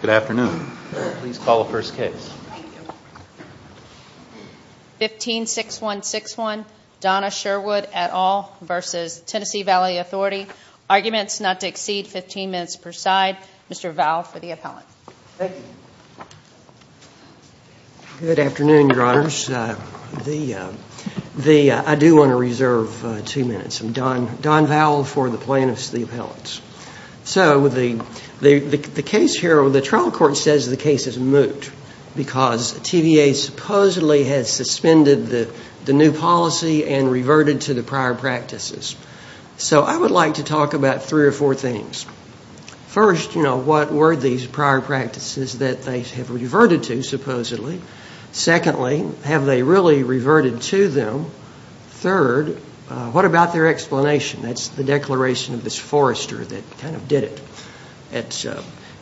Good afternoon. I do want to reserve two minutes. I'm Don Vowell for the plaintiffs, the appellants. So the case here, the trial court says the case is moot because TVA supposedly has suspended the new policy and reverted to the prior practices. So I would like to talk about three or four things. First, you know, what were these prior practices that they have reverted to, supposedly? Secondly, have they really reverted to them? Third, what about their explanation? That's the declaration of this forester that kind of did it.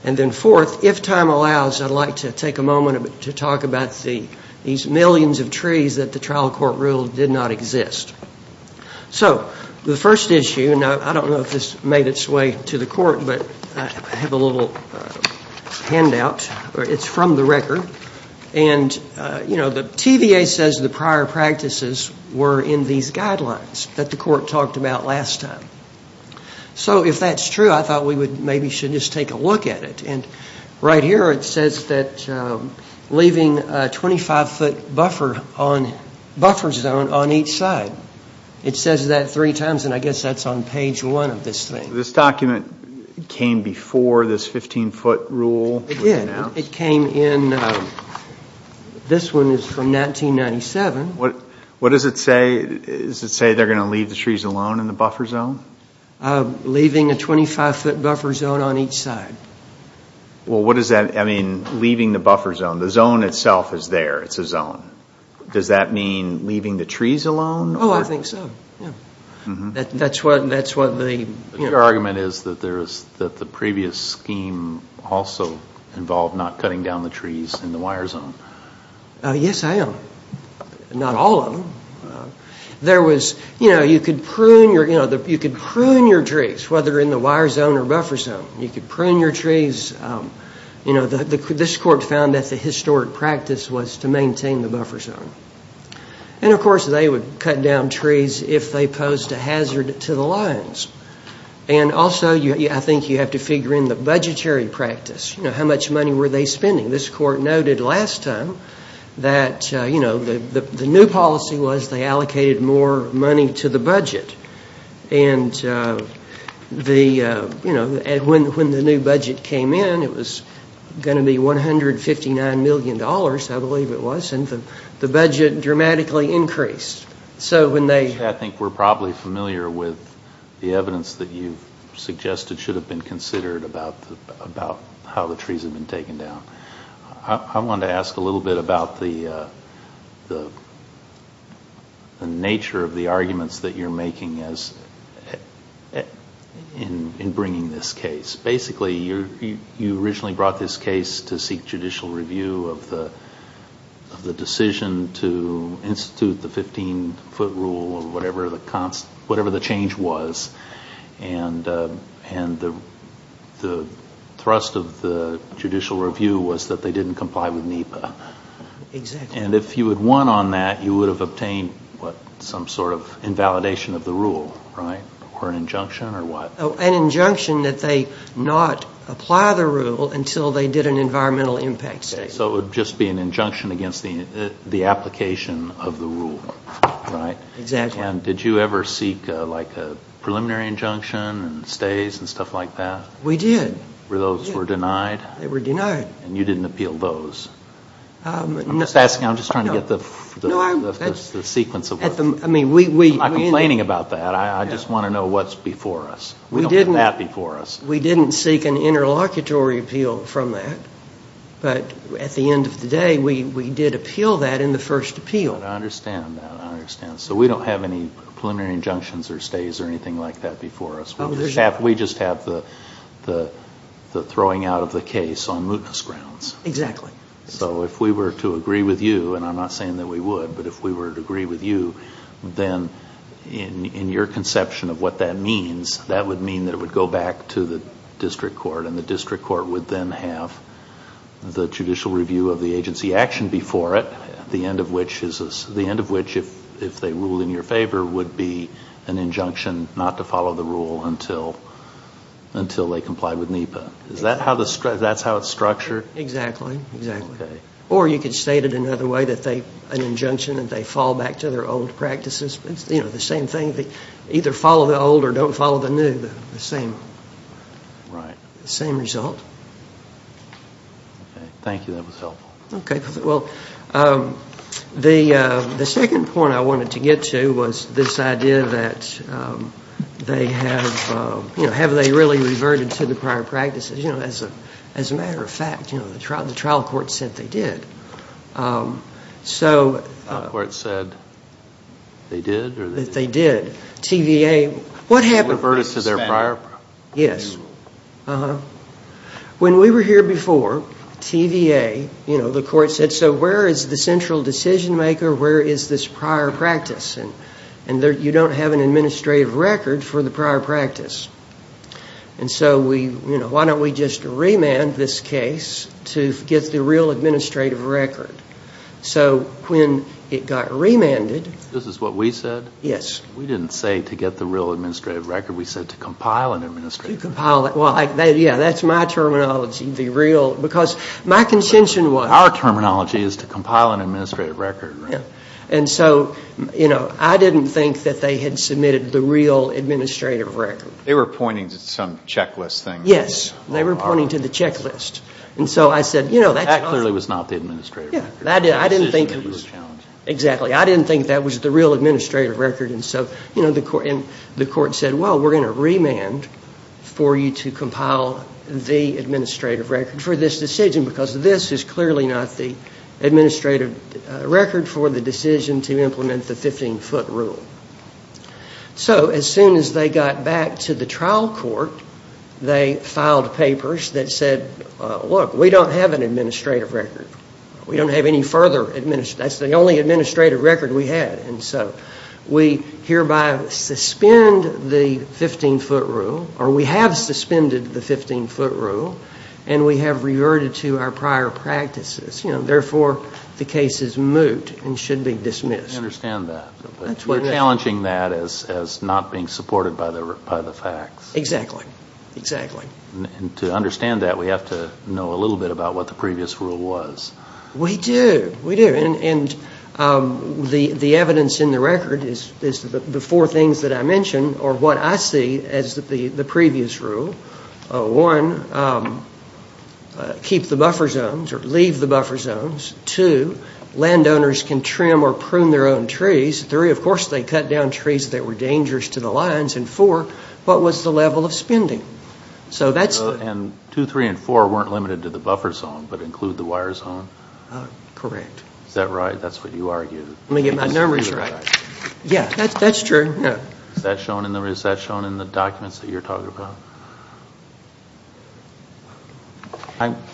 And then fourth, if time allows, I'd like to take a moment to talk about these millions of trees that the trial court ruled did not exist. So the first issue, and I don't know if this made its way to the court, but I have a little handout. It's from the record, and, you know, the TVA says the prior practices were in these guidelines that the court talked about last time. So if that's true, I thought we maybe should just take a look at it. And right here it says that leaving a 25-foot buffer zone on each side. It says that three times, and I guess that's on page one of this thing. This document came before this 15-foot rule was announced? It did. It came in, this one is from 1997. What does it say? Does it say they're going to leave the trees alone in the buffer zone? Leaving a 25-foot buffer zone on each side. Well, what does that, I mean, leaving the buffer zone, the zone itself is there, it's a zone. Does that mean leaving the trees alone? Oh, I think so, yeah. That's what the... Your argument is that the previous scheme also involved not cutting down the trees in the wire zone. Yes, I am. Not all of them. There was, you know, you could prune your trees, whether in the wire zone or buffer zone. You could prune your trees. You know, this court found that the historic practice was to maintain the buffer zone. And, of course, they would cut down trees if they posed a hazard to the lines. And also, I think you have to figure in the budgetary practice. You know, how much money were they spending? This court noted last time that, you know, the new policy was they allocated more money to the budget. And the, you know, when the new budget came in, it was going to be $159 million, I believe it was. And the budget dramatically increased. So when they... I think we're probably familiar with the evidence that you've suggested should have been considered about how the trees have been taken down. I wanted to ask a little bit about the nature of the arguments that you're making in bringing this case. Basically, you originally brought this case to seek judicial review of the decision to institute the 15-foot rule or whatever the change was. And the thrust of the judicial review was that they didn't comply with NEPA. Exactly. And if you had won on that, you would have obtained, what, some sort of invalidation of the rule, right? Or an injunction or what? An injunction that they not apply the rule until they did an environmental impact statement. So it would just be an injunction against the application of the rule, right? Exactly. And did you ever seek, like, a preliminary injunction and stays and stuff like that? We did. Where those were denied? They were denied. And you didn't appeal those? I'm just asking, I'm just trying to get the sequence of... I mean, we... I'm not complaining about that. I just want to know what's before us. We don't have that before us. We didn't seek an interlocutory appeal from that. But at the end of the day, we did appeal that in the first appeal. I understand that. I understand. So we don't have any preliminary injunctions or stays or anything like that before us. We just have the throwing out of the case on mootness grounds. Exactly. So if we were to agree with you, and I'm not saying that we would, but if we were to agree with you, then in your conception of what that means, that would mean that it would go back to the district court and the district court would then have the judicial review of the agency action before it, the end of which is, the end of which, if they ruled in your favor, would be an injunction not to follow the rule until they complied with NEPA. Is that how the, that's how it's structured? Exactly. Exactly. Or you could state it another way, that they, an injunction that they fall back to their old practices. It's, you know, the same thing. They either follow the old or don't follow the new, the same. Right. The same result. Thank you, that was helpful. Okay. Well, the second point I wanted to get to was this idea that they have, you know, have they really reverted to the prior practices? You know, as a matter of fact, you know, the trial court said they did. So. The trial court said they did? That they did. TVA, what happened? Reverted to their prior? Yes. When we were here before, TVA, you know, the court said, so where is the central decision maker, where is this prior practice? And you don't have an administrative record for the prior practice. And so we, you know, why don't we just remand this case to get the real administrative record. So when it got remanded. This is what we said? Yes. We didn't say to get the real administrative record, we said to compile an administrative record. To compile, well, yeah, that's my terminology, the real, because my contention was. Our terminology is to compile an administrative record. Yeah. And so, you know, I didn't think that they had submitted the real administrative record. They were pointing to some checklist thing. Yes. They were pointing to the checklist. And so I said, you know. That clearly was not the administrative record. Yeah. I didn't think it was. Exactly. I didn't think that was the real administrative record. And so, you know, the court said, well, we're going to remand for you to compile the administrative record for this decision. Because this is clearly not the administrative record for the decision to implement the 15-foot rule. So as soon as they got back to the trial court, they filed papers that said, look, we don't have an administrative record. We don't have any further, that's the only administrative record we had. And so we hereby suspend the 15-foot rule, or we have suspended the 15-foot rule, and we have reverted to our prior practices. You know, therefore, the case is moot and should be dismissed. I understand that. You're challenging that as not being supported by the facts. Exactly. Exactly. And to understand that, we have to know a little bit about what the previous rule was. We do. We do. And the evidence in the record is the four things that I mentioned, or what I see as the previous rule. One, keep the buffer zones, or leave the buffer zones. Two, landowners can trim or prune their own trees. Three, of course, they cut down trees that were dangerous to the lines. And four, what was the level of spending? So that's the... And two, three, and four weren't limited to the buffer zone, but include the wire zone? Correct. Is that right? That's what you argued. Let me get my numbers right. Yeah, that's true. Yeah. Is that shown in the documents that you're talking about?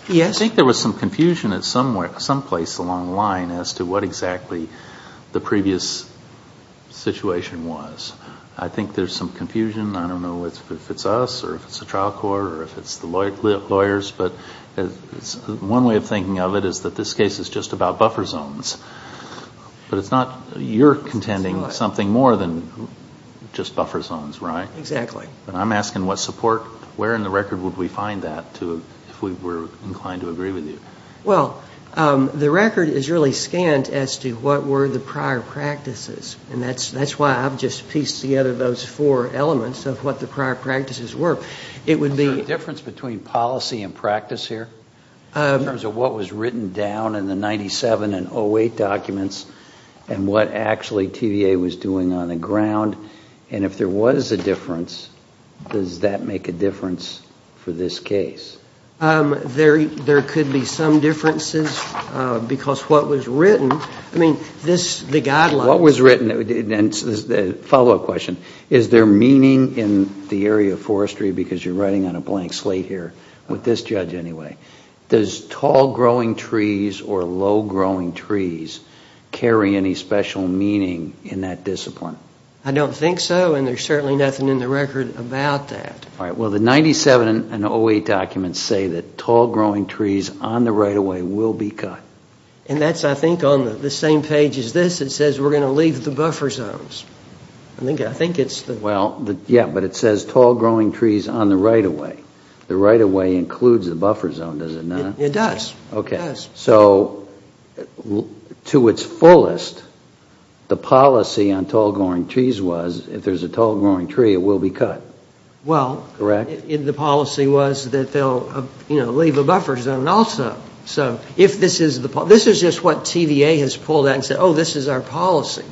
Yes. I think there was some confusion at some place along the line as to what exactly the previous situation was. I think there's some confusion. I don't know if it's us, or if it's the trial court, or if it's the lawyers. But one way of thinking of it is that this case is just about buffer zones. But it's not... You're contending something more than just buffer zones, right? Exactly. And I'm asking what support... Where in the record would we find that if we were inclined to agree with you? Well, the record is really scanned as to what were the prior practices. And that's why I've just pieced together those four elements of what the prior practices were. It would be... Is there a difference between policy and practice here, in terms of what was written down in the 97 and 08 documents, and what actually TVA was doing on the ground? And if there was a difference, does that make a difference for this case? There could be some differences, because what was written... I mean, this, the guidelines... What was written, and a follow-up question. Is there meaning in the area of forestry, because you're writing on a blank slate here, with this judge anyway. Does tall growing trees or low growing trees carry any special meaning in that discipline? I don't think so, and there's certainly nothing in the record about that. All right. Well, the 97 and 08 documents say that tall growing trees on the right-of-way will be cut. And that's, I think, on the same page as this. It says we're going to leave the buffer zones. I think it's the... Well, yeah, but it says tall growing trees on the right-of-way. The right-of-way includes the buffer zone, does it not? It does. Okay. So, to its fullest, the policy on tall growing trees was, if there's a tall growing tree, it will be cut. Well, the policy was that they'll, you know, leave a buffer zone also. So, if this is the... This is just what TVA has pulled out and said, oh, this is our policy.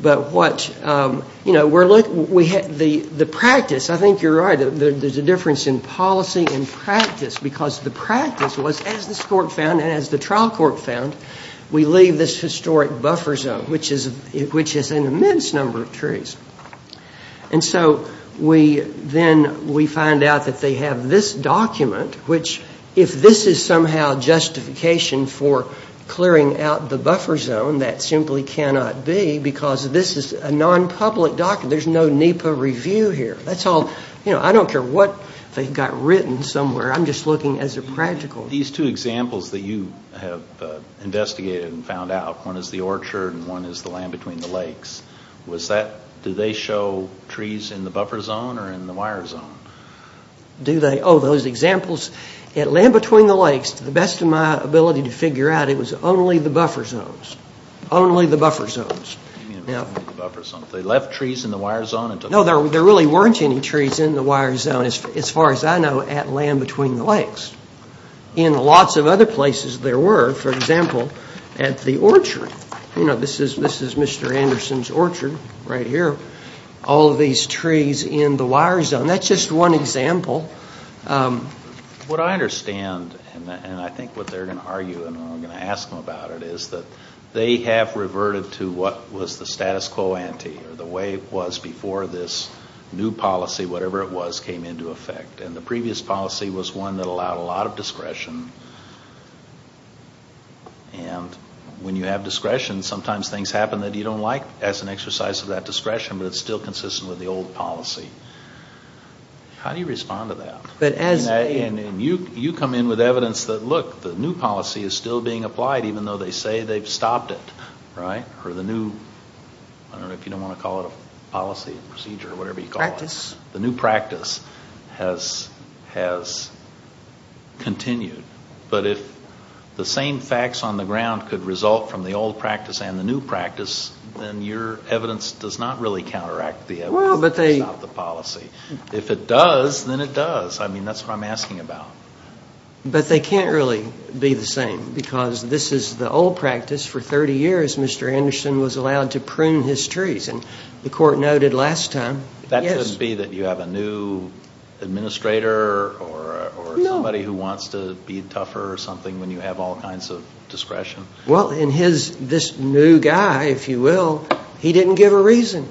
But what, you know, the practice, I think you're right, there's a difference in policy and practice, because the practice was, as this court found and as the trial court found, we leave this historic buffer zone, which is an immense number of trees. And so, we then, we find out that they have this document, which, if this is somehow justification for clearing out the buffer zone, that simply cannot be, because this is a non-public document. There's no NEPA review here. That's all, you know, I don't care what they've got written somewhere. I'm just looking as a practical. These two examples that you have investigated and found out, one is the orchard and one is the land between the lakes. Was that, do they show trees in the buffer zone or in the wire zone? Do they? Oh, those examples, at land between the lakes, to the best of my ability to figure out, it was only the buffer zones. Only the buffer zones. You mean only the buffer zones. They left trees in the wire zone and took... No, there really weren't any trees in the wire zone, as far as I know, at land between the lakes. In lots of other places there were, for example, at the orchard. You know, this is Mr. Anderson's orchard right here. All of these trees in the wire zone. That's just one example. What I understand, and I think what they're going to argue, and I'm going to ask them about it, is that they have reverted to what was the status quo ante, or the way it was before this new policy, whatever it was, came into effect. And the previous policy was one that allowed a lot of discretion. And when you have discretion, sometimes things happen that you don't like as an exercise of that discretion, but it's still consistent with the old policy. How do you respond to that? But as a... And you come in with evidence that, look, the new policy is still being applied, even though they say they've stopped it, right? Or the new, I don't know if you don't want to call it a policy procedure, whatever you call it. Practice. The new practice has continued. But if the same facts on the ground could result from the old practice and the new practice, then your evidence does not really counteract the evidence about the policy. If it does, then it does. I mean, that's what I'm asking about. But they can't really be the same, because this is the old practice. For 30 years, Mr. Anderson was allowed to prune his trees. And the court noted last time... That couldn't be that you have a new administrator or somebody who wants to be tougher or something when you have all kinds of discretion? Well, and this new guy, if you will, he didn't give a reason.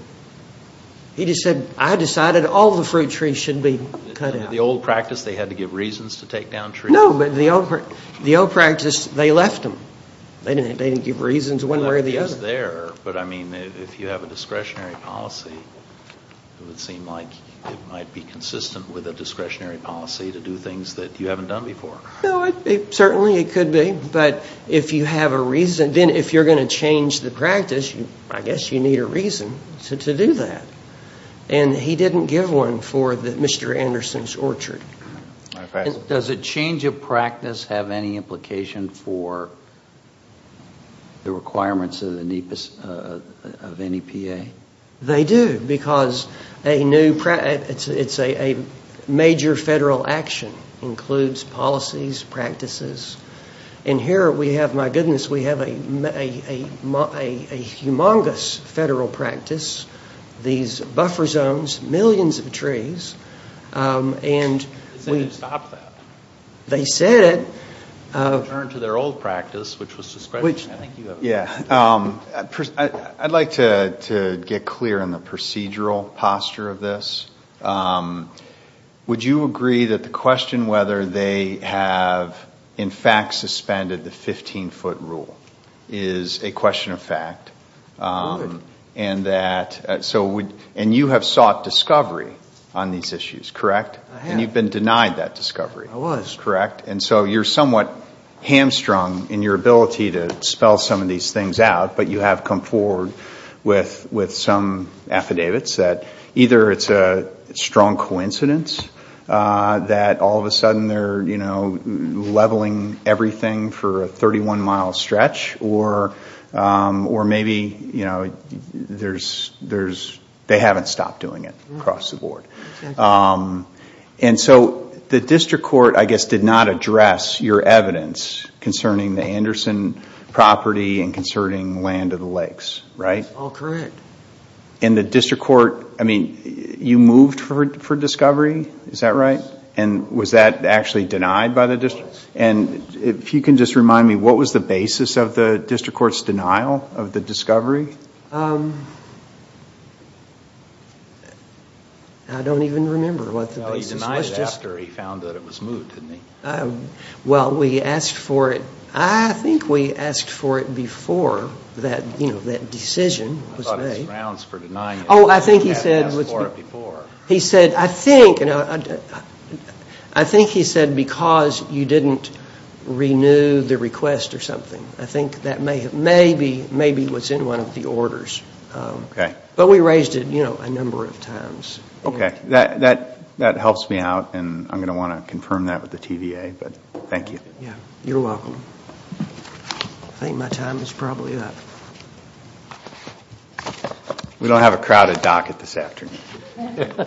He just said, I decided all the fruit trees should be cut out. The old practice, they had to give reasons to take down trees? No, but the old practice, they left them. They didn't give reasons one way or the other. But I mean, if you have a discretionary policy, it would seem like it might be consistent with a discretionary policy to do things that you haven't done before. No, certainly it could be. But if you have a reason, then if you're going to change the practice, I guess you need a reason to do that. And he didn't give one for Mr. Anderson's orchard. Does a change of practice have any implication for the requirements of the NEPA? They do, because it's a major federal action. Includes policies, practices. And here we have, my goodness, we have a humongous federal practice. These buffer zones, millions of trees. They didn't stop that. They said it. Return to their old practice, which was discretionary. Yeah, I'd like to get clear on the procedural posture of this. Would you agree that the question whether they have, in fact, suspended the 15-foot rule is a question of fact? I would. And you have sought discovery on these issues, correct? I have. And you've been denied that discovery. I was. Correct. And so you're somewhat hamstrung in your ability to spell some of these things out. But you have come forward with some affidavits that either it's a strong coincidence that all of a sudden they're leveling everything for a 31-mile stretch. Or maybe they haven't stopped doing it across the board. And so the district court, I guess, did not address your evidence concerning the Anderson property and concerning land of the lakes, right? All correct. And the district court, I mean, you moved for discovery, is that right? Yes. It was. And if you can just remind me, what was the basis of the district court's denial of the discovery? I don't even remember what the basis was. No, he denied it after he found that it was moved, didn't he? Well, we asked for it. I think we asked for it before that decision was made. I thought it was grounds for denying it. Oh, I think he said... We had asked for it before. I think he said because you didn't renew the request or something. I think that maybe was in one of the orders. But we raised it a number of times. Okay. That helps me out and I'm going to want to confirm that with the TVA, but thank you. You're welcome. I think my time is probably up. We don't have a crowded docket this afternoon. Okay.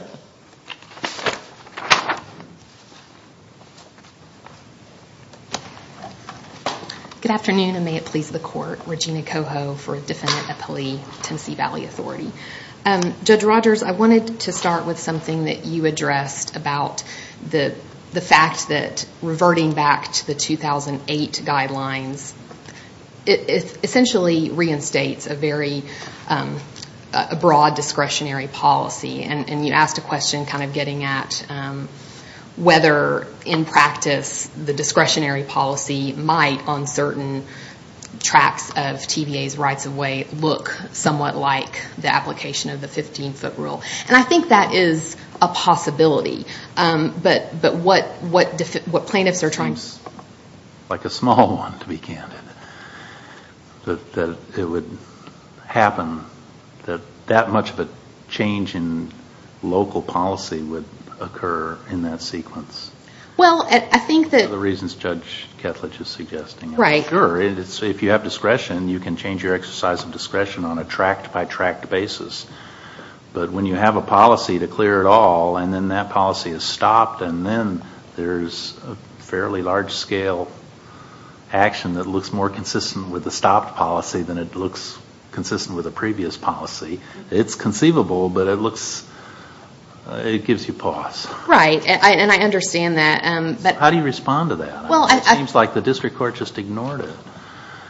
Good afternoon and may it please the court. Regina Coho for Defendant Appellee, Tennessee Valley Authority. Judge Rogers, I wanted to start with something that you addressed about the fact that reverting back to the 2008 guidelines, it essentially reinstates a very broad discretionary policy. And you asked a question kind of getting at whether, in practice, the discretionary policy might, on certain tracks of TVA's rights of way, look somewhat like the application of the 15-foot rule. And I think that is a possibility. But what plaintiffs are trying... It's like a small one, to be candid. That it would happen that that much of a change in local policy would occur in that sequence. Well, I think that... For the reasons Judge Ketledge is suggesting. Right. Sure. If you have discretion, you can change your exercise of discretion on a tract-by-tract basis. But when you have a policy to clear it all and then that policy is stopped and then there's a fairly large-scale action that looks more consistent with the stopped policy than it looks consistent with the previous policy, it's conceivable, but it looks... It gives you pause. Right. And I understand that. How do you respond to that? It seems like the district court just ignored it.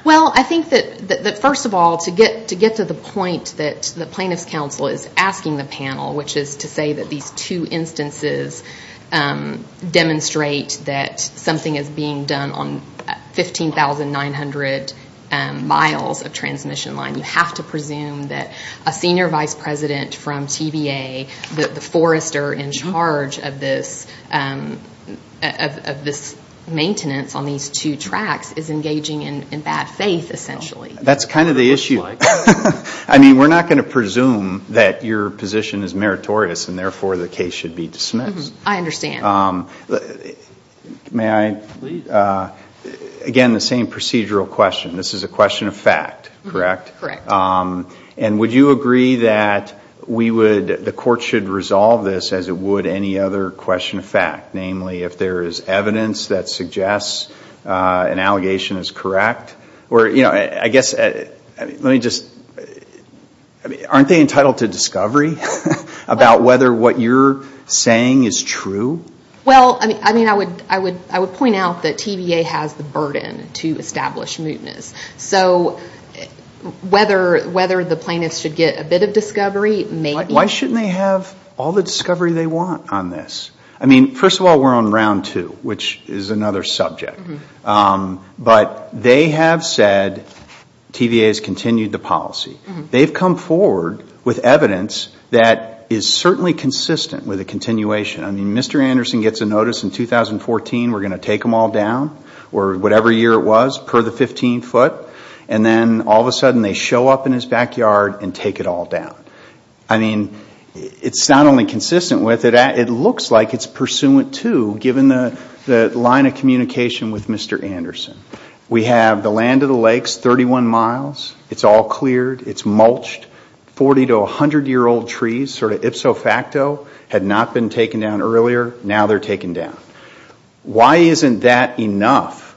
Well, I think that, first of all, to get to the point that the plaintiff's counsel is asking the panel, which is to say that these two instances demonstrate that something is being done on 15,900 miles of transmission line. You have to presume that a senior vice president from TVA, the forester in charge of this maintenance on these two tracts is engaging in bad faith, essentially. That's kind of the issue. I mean, we're not going to presume that your position is meritorious and, therefore, the case should be dismissed. I understand. May I? Please. Again, the same procedural question. This is a question of fact, correct? Correct. And would you agree that the court should resolve this as it would any other question of fact? Namely, if there is evidence that suggests an allegation is correct? I guess, let me just, aren't they entitled to discovery about whether what you're saying is true? Well, I mean, I would point out that TVA has the burden to establish mootness. So whether the plaintiffs should get a bit of discovery, maybe. Why shouldn't they have all the discovery they want on this? I mean, first of all, we're on round two, which is another subject. But they have said TVA has continued the policy. They've come forward with evidence that is certainly consistent with a continuation. I mean, Mr. Anderson gets a notice in 2014, we're going to take them all down, or whatever year it was, per the 15 foot. And then all of a sudden they show up in his backyard and take it all down. I mean, it's not only consistent with it, it looks like it's pursuant to, given the line of communication with Mr. Anderson. We have the land of the lakes, 31 miles. It's all cleared. It's mulched. 40 to 100 year old trees, sort of ipso facto, had not been taken down earlier. Now they're taken down. Why isn't that enough,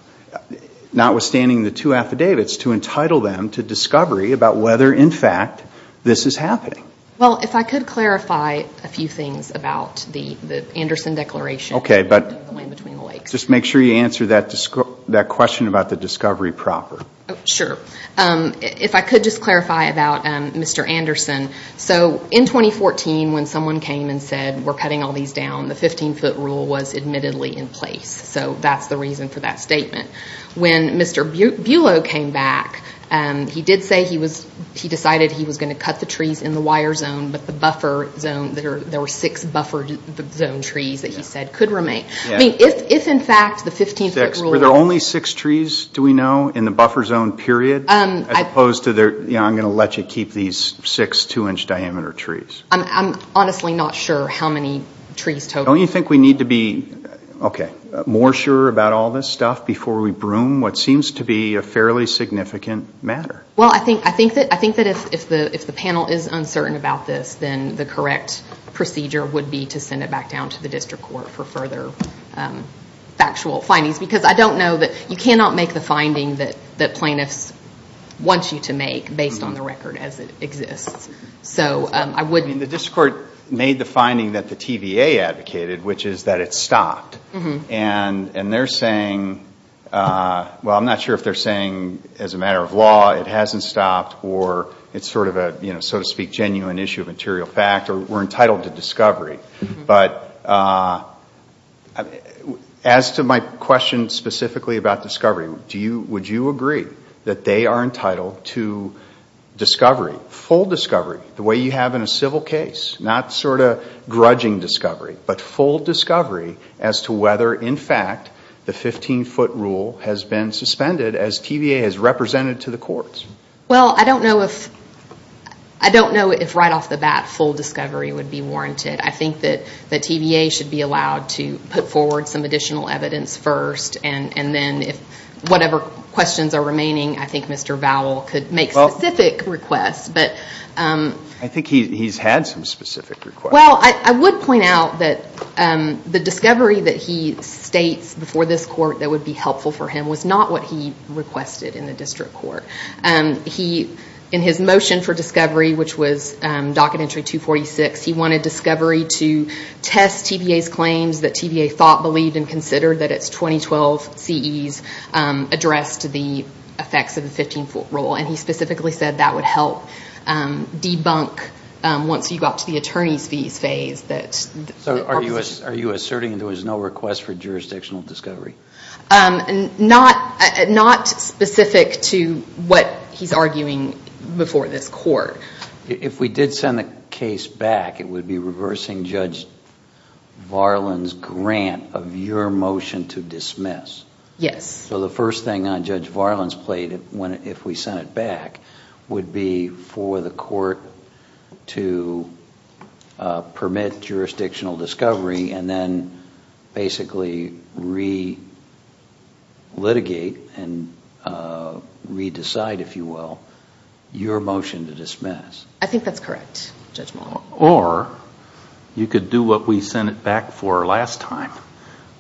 notwithstanding the two affidavits, to entitle them to discovery about whether, in fact, this is happening? Well, if I could clarify a few things about the Anderson Declaration. Okay, but just make sure you answer that question about the discovery proper. Sure. If I could just clarify about Mr. Anderson. In 2014, when someone came and said, we're cutting all these down, the 15 foot rule was admittedly in place. So that's the reason for that statement. When Mr. Bulow came back, he did say he decided he was going to cut the trees in the wire zone, but the buffer zone, there were six buffer zone trees that he said could remain. I mean, if in fact the 15 foot rule... Were there only six trees, do we know, in the buffer zone period? As opposed to, I'm going to let you keep these six two inch diameter trees. I'm honestly not sure how many trees total. Don't you think we need to be more sure about all this stuff before we broom what seems to be a fairly significant matter? Well, I think that if the panel is uncertain about this, then the correct procedure would be to send it back down to the district court for further factual findings. Because I don't know that... You cannot make the finding that plaintiffs want you to make based on the record as it exists. So I wouldn't... The district court made the finding that the TVA advocated, which is that it stopped. And they're saying... Well, I'm not sure if they're saying as a matter of law it hasn't stopped or it's sort of a, so to speak, genuine issue of material fact or we're entitled to discovery. But as to my question specifically about discovery, would you agree that they are entitled to discovery, full discovery, the way you have in a civil case? Not sort of grudging discovery, but full discovery as to whether, in fact, the 15-foot rule has been suspended as TVA has represented to the courts. Well, I don't know if right off the bat full discovery would be warranted. I think that TVA should be allowed to put forward some additional evidence first. And then if whatever questions are remaining, I think Mr. Vowell could make specific requests. But... I think he's had some specific requests. Well, I would point out that the discovery that he states before this court that would be helpful for him was not what he requested in the district court. In his motion for discovery, which was Docket Entry 246, he wanted discovery to test TVA's claims that TVA thought, believed, and considered that its 2012 CEs addressed the effects of the 15-foot rule. And he specifically said that would help debunk, once you got to the attorney's fees phase, that... So are you asserting there was no request for jurisdictional discovery? Not specific to what he's arguing before this court. If we did send the case back, it would be reversing Judge Varlin's grant of your motion to dismiss. Yes. So the first thing on Judge Varlin's plate, if we sent it back, would be for the court to permit jurisdictional discovery and then basically re-litigate and re-decide, if you will, your motion to dismiss. I think that's correct, Judge Mullen. Or you could do what we sent it back for last time,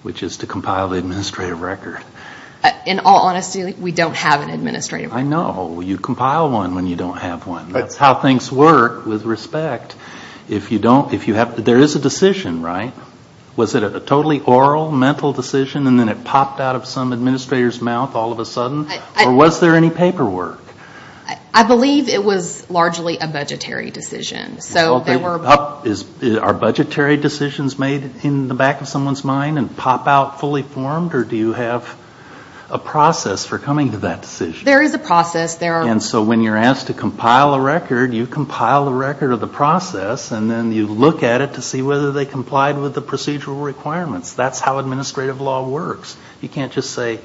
which is to compile the administrative record. In all honesty, we don't have an administrative record. I know. You compile one when you don't have one. That's how things work, with respect. There is a decision, right? Was it a totally oral, mental decision, and then it popped out of some administrator's mouth all of a sudden? Or was there any paperwork? I believe it was largely a budgetary decision. Are budgetary decisions made in the back of someone's mind and pop out fully formed? Or do you have a process for coming to that decision? There is a process. And so when you're asked to compile a record, you compile a record of the process and then you look at it to see whether they complied with the procedural requirements. That's how administrative law works. You can't just say,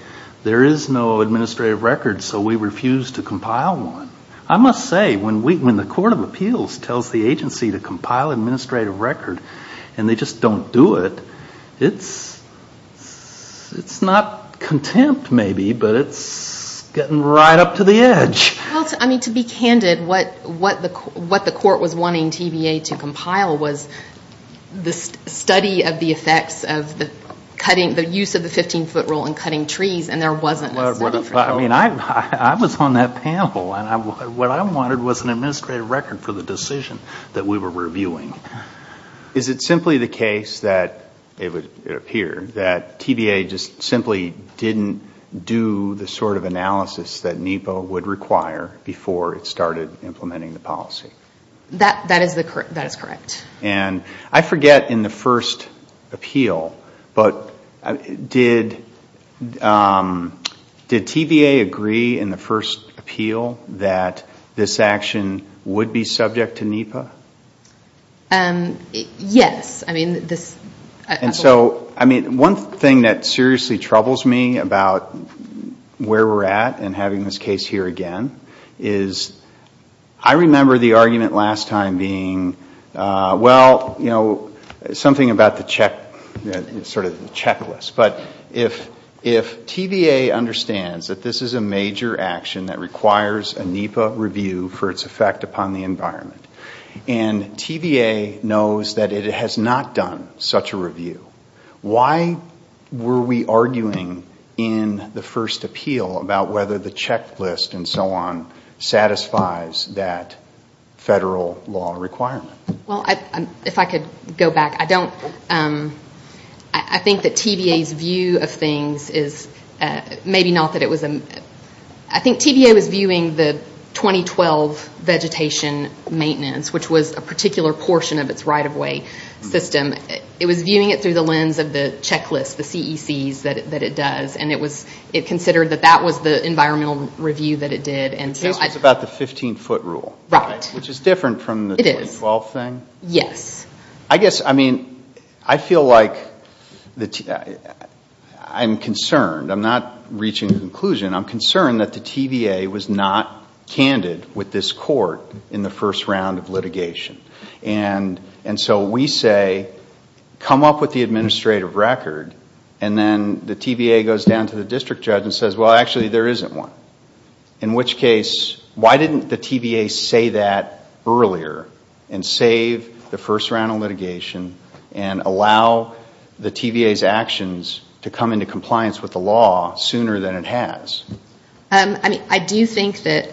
there is no administrative record, so we refuse to compile one. I must say, when the Court of Appeals tells the agency to compile an administrative record and they just don't do it, it's not contempt, maybe, but it's getting right up to the edge. To be candid, what the court was wanting TBA to compile was the study of the effects of the use of the 15-foot rule in cutting trees, and there wasn't a study for that. I was on that panel, and what I wanted was an administrative record for the decision that we were reviewing. Is it simply the case that it would appear that TBA just simply didn't do the sort of analysis that NEPA would require before it started implementing the policy? That is correct. I forget in the first appeal, but did TBA agree in the first appeal that this action would be subject to NEPA? Yes. One thing that seriously troubles me about where we're at in having this case here again is I remember the argument last time being, well, something about the checklist. But if TBA understands that this is a major action that requires a NEPA review for its effect upon the environment, and TBA knows that it has not done such a review, why were we arguing in the first appeal about whether the checklist and so on satisfies that federal law requirement? If I could go back. I think that TBA's view of things is maybe not that it was a... I think TBA was viewing the 2012 vegetation maintenance, which was a particular portion of its right-of-way system. It was viewing it through the lens of the checklist, the CECs that it does, and it considered that that was the environmental review that it did. The case was about the 15-foot rule, which is different from the 2012 thing? Yes. I guess, I mean, I feel like I'm concerned. I'm not reaching a conclusion. I'm concerned that the TBA was not candid with this court in the first round of litigation. And so we say, come up with the administrative record, and then the TBA goes down to the district judge and says, well, actually, there isn't one. In which case, why didn't the TBA say that earlier and save the first round of litigation and allow the TBA's actions to come into compliance with the law sooner than it has? I mean, I do think that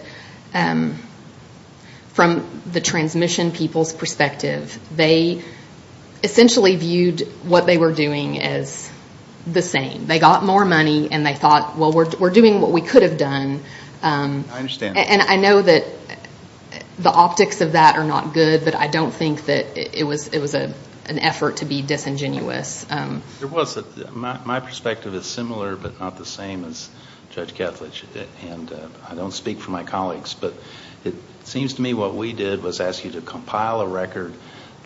from the transmission people's perspective, they essentially viewed what they were doing as the same. They got more money, and they thought, well, we're doing what we could have done. I understand. And I know that the optics of that are not good, but I don't think that it was an effort to be disingenuous. It was. My perspective is similar but not the same as Judge Ketledge, and I don't speak for my colleagues. But it seems to me what we did was ask you to compile a record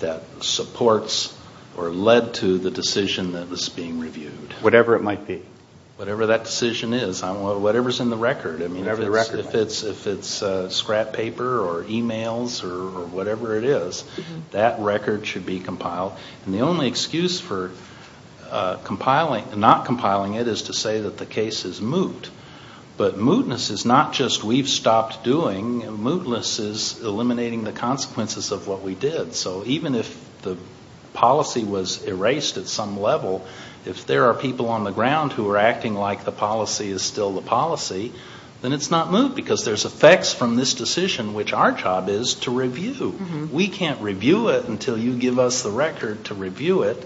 that supports or led to the decision that was being reviewed. Whatever it might be. Whatever that decision is. Whatever's in the record. If it's scrap paper or e-mails or whatever it is, that record should be compiled. And the only excuse for not compiling it is to say that the case is moot. But mootness is not just we've stopped doing. Mootness is eliminating the consequences of what we did. So even if the policy was erased at some level, if there are people on the ground who are acting like the policy is still the policy, then it's not moot because there's effects from this decision, which our job is to review. We can't review it until you give us the record to review it.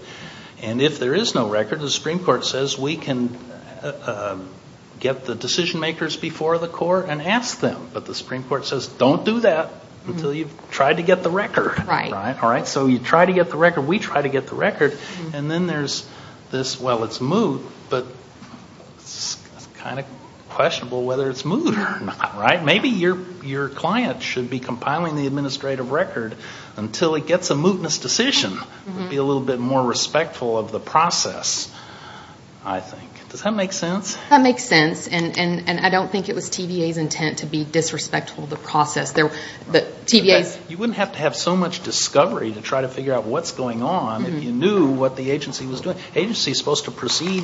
And if there is no record, the Supreme Court says we can get the decision makers before the court and ask them. But the Supreme Court says don't do that until you've tried to get the record. So you try to get the record. We try to get the record. And then there's this, well, it's moot, but it's kind of questionable whether it's moot or not. Maybe your client should be compiling the administrative record until it gets a mootness decision. It would be a little bit more respectful of the process, I think. Does that make sense? And I don't think it was TVA's intent to be disrespectful of the process. You wouldn't have to have so much discovery to try to figure out what's going on if you knew what the agency was doing. The agency is supposed to proceed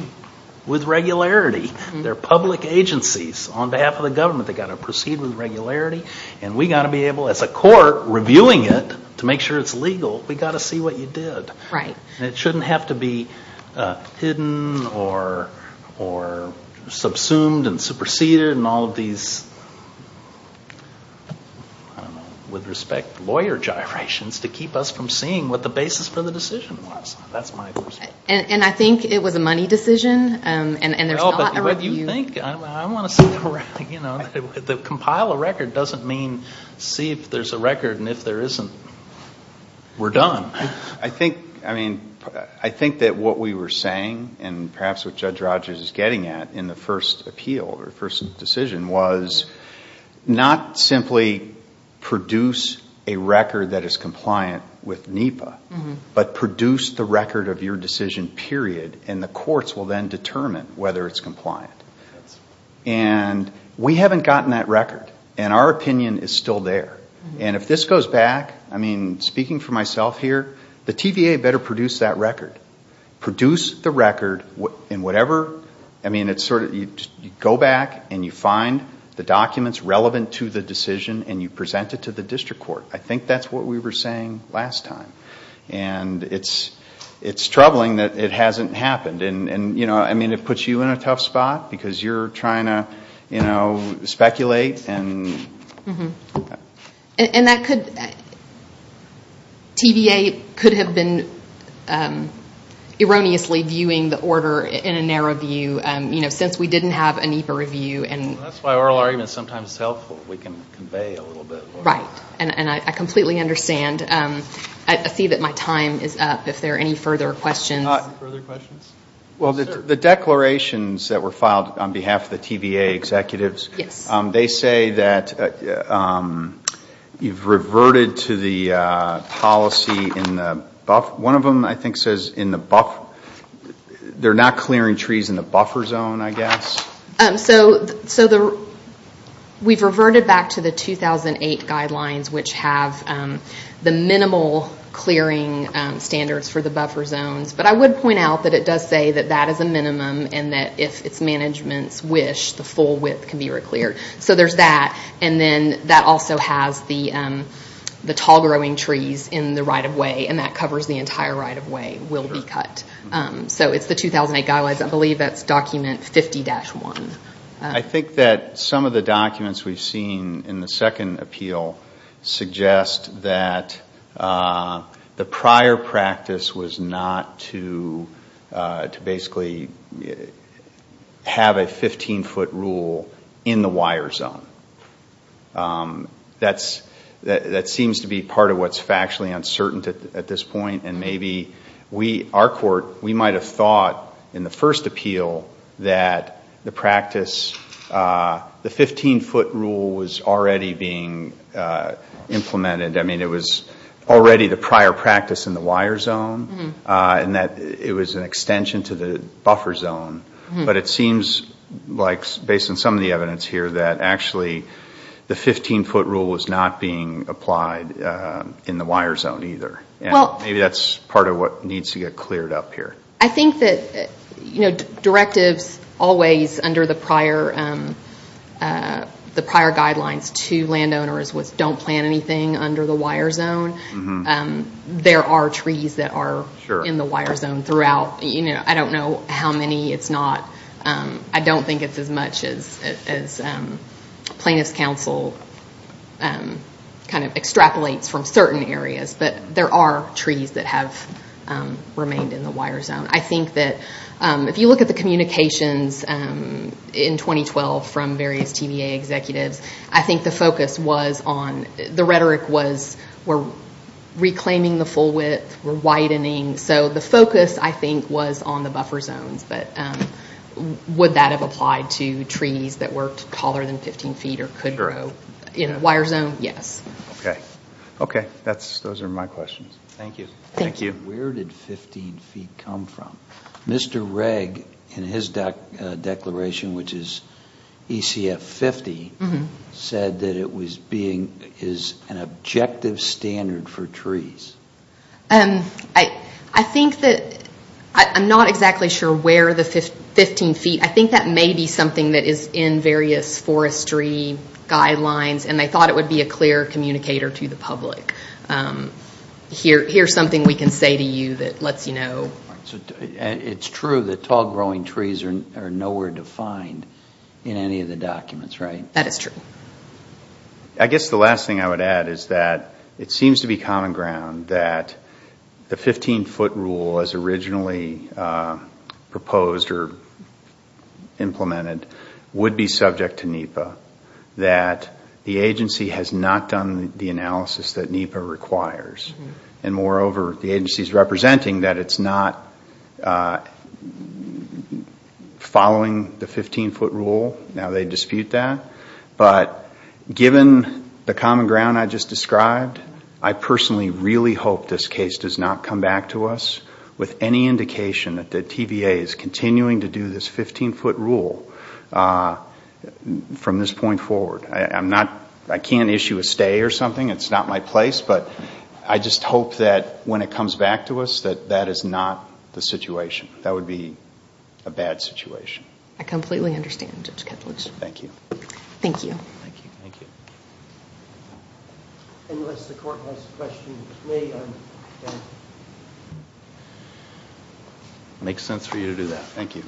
with regularity. They're public agencies. On behalf of the government, they've got to proceed with regularity. And we've got to be able, as a court, reviewing it to make sure it's legal. We've got to see what you did. And it shouldn't have to be hidden or subsumed and superseded and all of these, I don't know, with respect to lawyer gyrations to keep us from seeing what the basis for the decision was. That's my perspective. And I think it was a money decision, and there's not a review. No, but you think. I want to sit around. The compile a record doesn't mean see if there's a record, and if there isn't, we're done. I think that what we were saying, and perhaps what Judge Rogers is getting at in the first appeal or first decision, was not simply produce a record that is compliant with NEPA, but produce the record of your decision, period, and the courts will then determine whether it's compliant. And we haven't gotten that record, and our opinion is still there. And if this goes back, I mean, speaking for myself here, the TVA better produce that record. Produce the record in whatever, I mean, it's sort of you go back and you find the documents relevant to the decision and you present it to the district court. I think that's what we were saying last time. And it's troubling that it hasn't happened. I mean, it puts you in a tough spot because you're trying to speculate. And that could, TVA could have been erroneously viewing the order in a narrow view, since we didn't have a NEPA review. That's why oral arguments are sometimes helpful. We can convey a little bit more. Right, and I completely understand. I see that my time is up. If there are any further questions. Well, the declarations that were filed on behalf of the TVA executives, they say that you've reverted to the policy in the buffer. One of them, I think, says in the buffer. They're not clearing trees in the buffer zone, I guess. So we've reverted back to the 2008 guidelines, which have the minimal clearing standards for the buffer zones. But I would point out that it does say that that is a minimum and that if its managements wish, the full width can be recleared. So there's that. And then that also has the tall growing trees in the right-of-way, and that covers the entire right-of-way will be cut. So it's the 2008 guidelines. I believe that's document 50-1. I think that some of the documents we've seen in the second appeal suggest that the prior practice was not to basically have a 15-foot rule in the wire zone. That seems to be part of what's factually uncertain at this point, and maybe we, our court, we might have thought in the first appeal that the practice, the 15-foot rule was already being implemented. I mean, it was already the prior practice in the wire zone and that it was an extension to the buffer zone. But it seems like, based on some of the evidence here, that actually the 15-foot rule was not being applied in the wire zone either. Maybe that's part of what needs to get cleared up here. I think that directives always under the prior guidelines to landowners was don't plant anything under the wire zone. There are trees that are in the wire zone throughout. I don't know how many it's not. I don't think it's as much as plaintiff's counsel kind of extrapolates from certain areas, but there are trees that have remained in the wire zone. I think that if you look at the communications in 2012 from various TVA executives, I think the focus was on the rhetoric was we're reclaiming the full width, we're widening. So the focus, I think, was on the buffer zones, but would that have applied to trees that were taller than 15 feet or could grow in a wire zone? Yes. Okay. Okay. Those are my questions. Thank you. Thank you. Where did 15 feet come from? Mr. Regg, in his declaration, which is ECF 50, said that it was being an objective standard for trees. I think that I'm not exactly sure where the 15 feet. I think that may be something that is in various forestry guidelines and they thought it would be a clear communicator to the public. Here's something we can say to you that lets you know. It's true that tall growing trees are nowhere to find in any of the documents, right? That is true. I guess the last thing I would add is that it seems to be common ground that the 15 foot rule as originally proposed or implemented would be subject to NEPA, that the agency has not done the analysis that NEPA requires. And moreover, the agency is representing that it's not following the 15 foot rule. Now they dispute that. But given the common ground I just described, I personally really hope this case does not come back to us with any indication that the TVA is continuing to do this 15 foot rule from this point forward. I can't issue a stay or something. It's not my place. But I just hope that when it comes back to us that that is not the situation. That would be a bad situation. I completely understand, Judge Ketledge. Thank you. Thank you. Thank you. Thank you. Unless the court has questions, may I? It makes sense for you to do that. Thank you.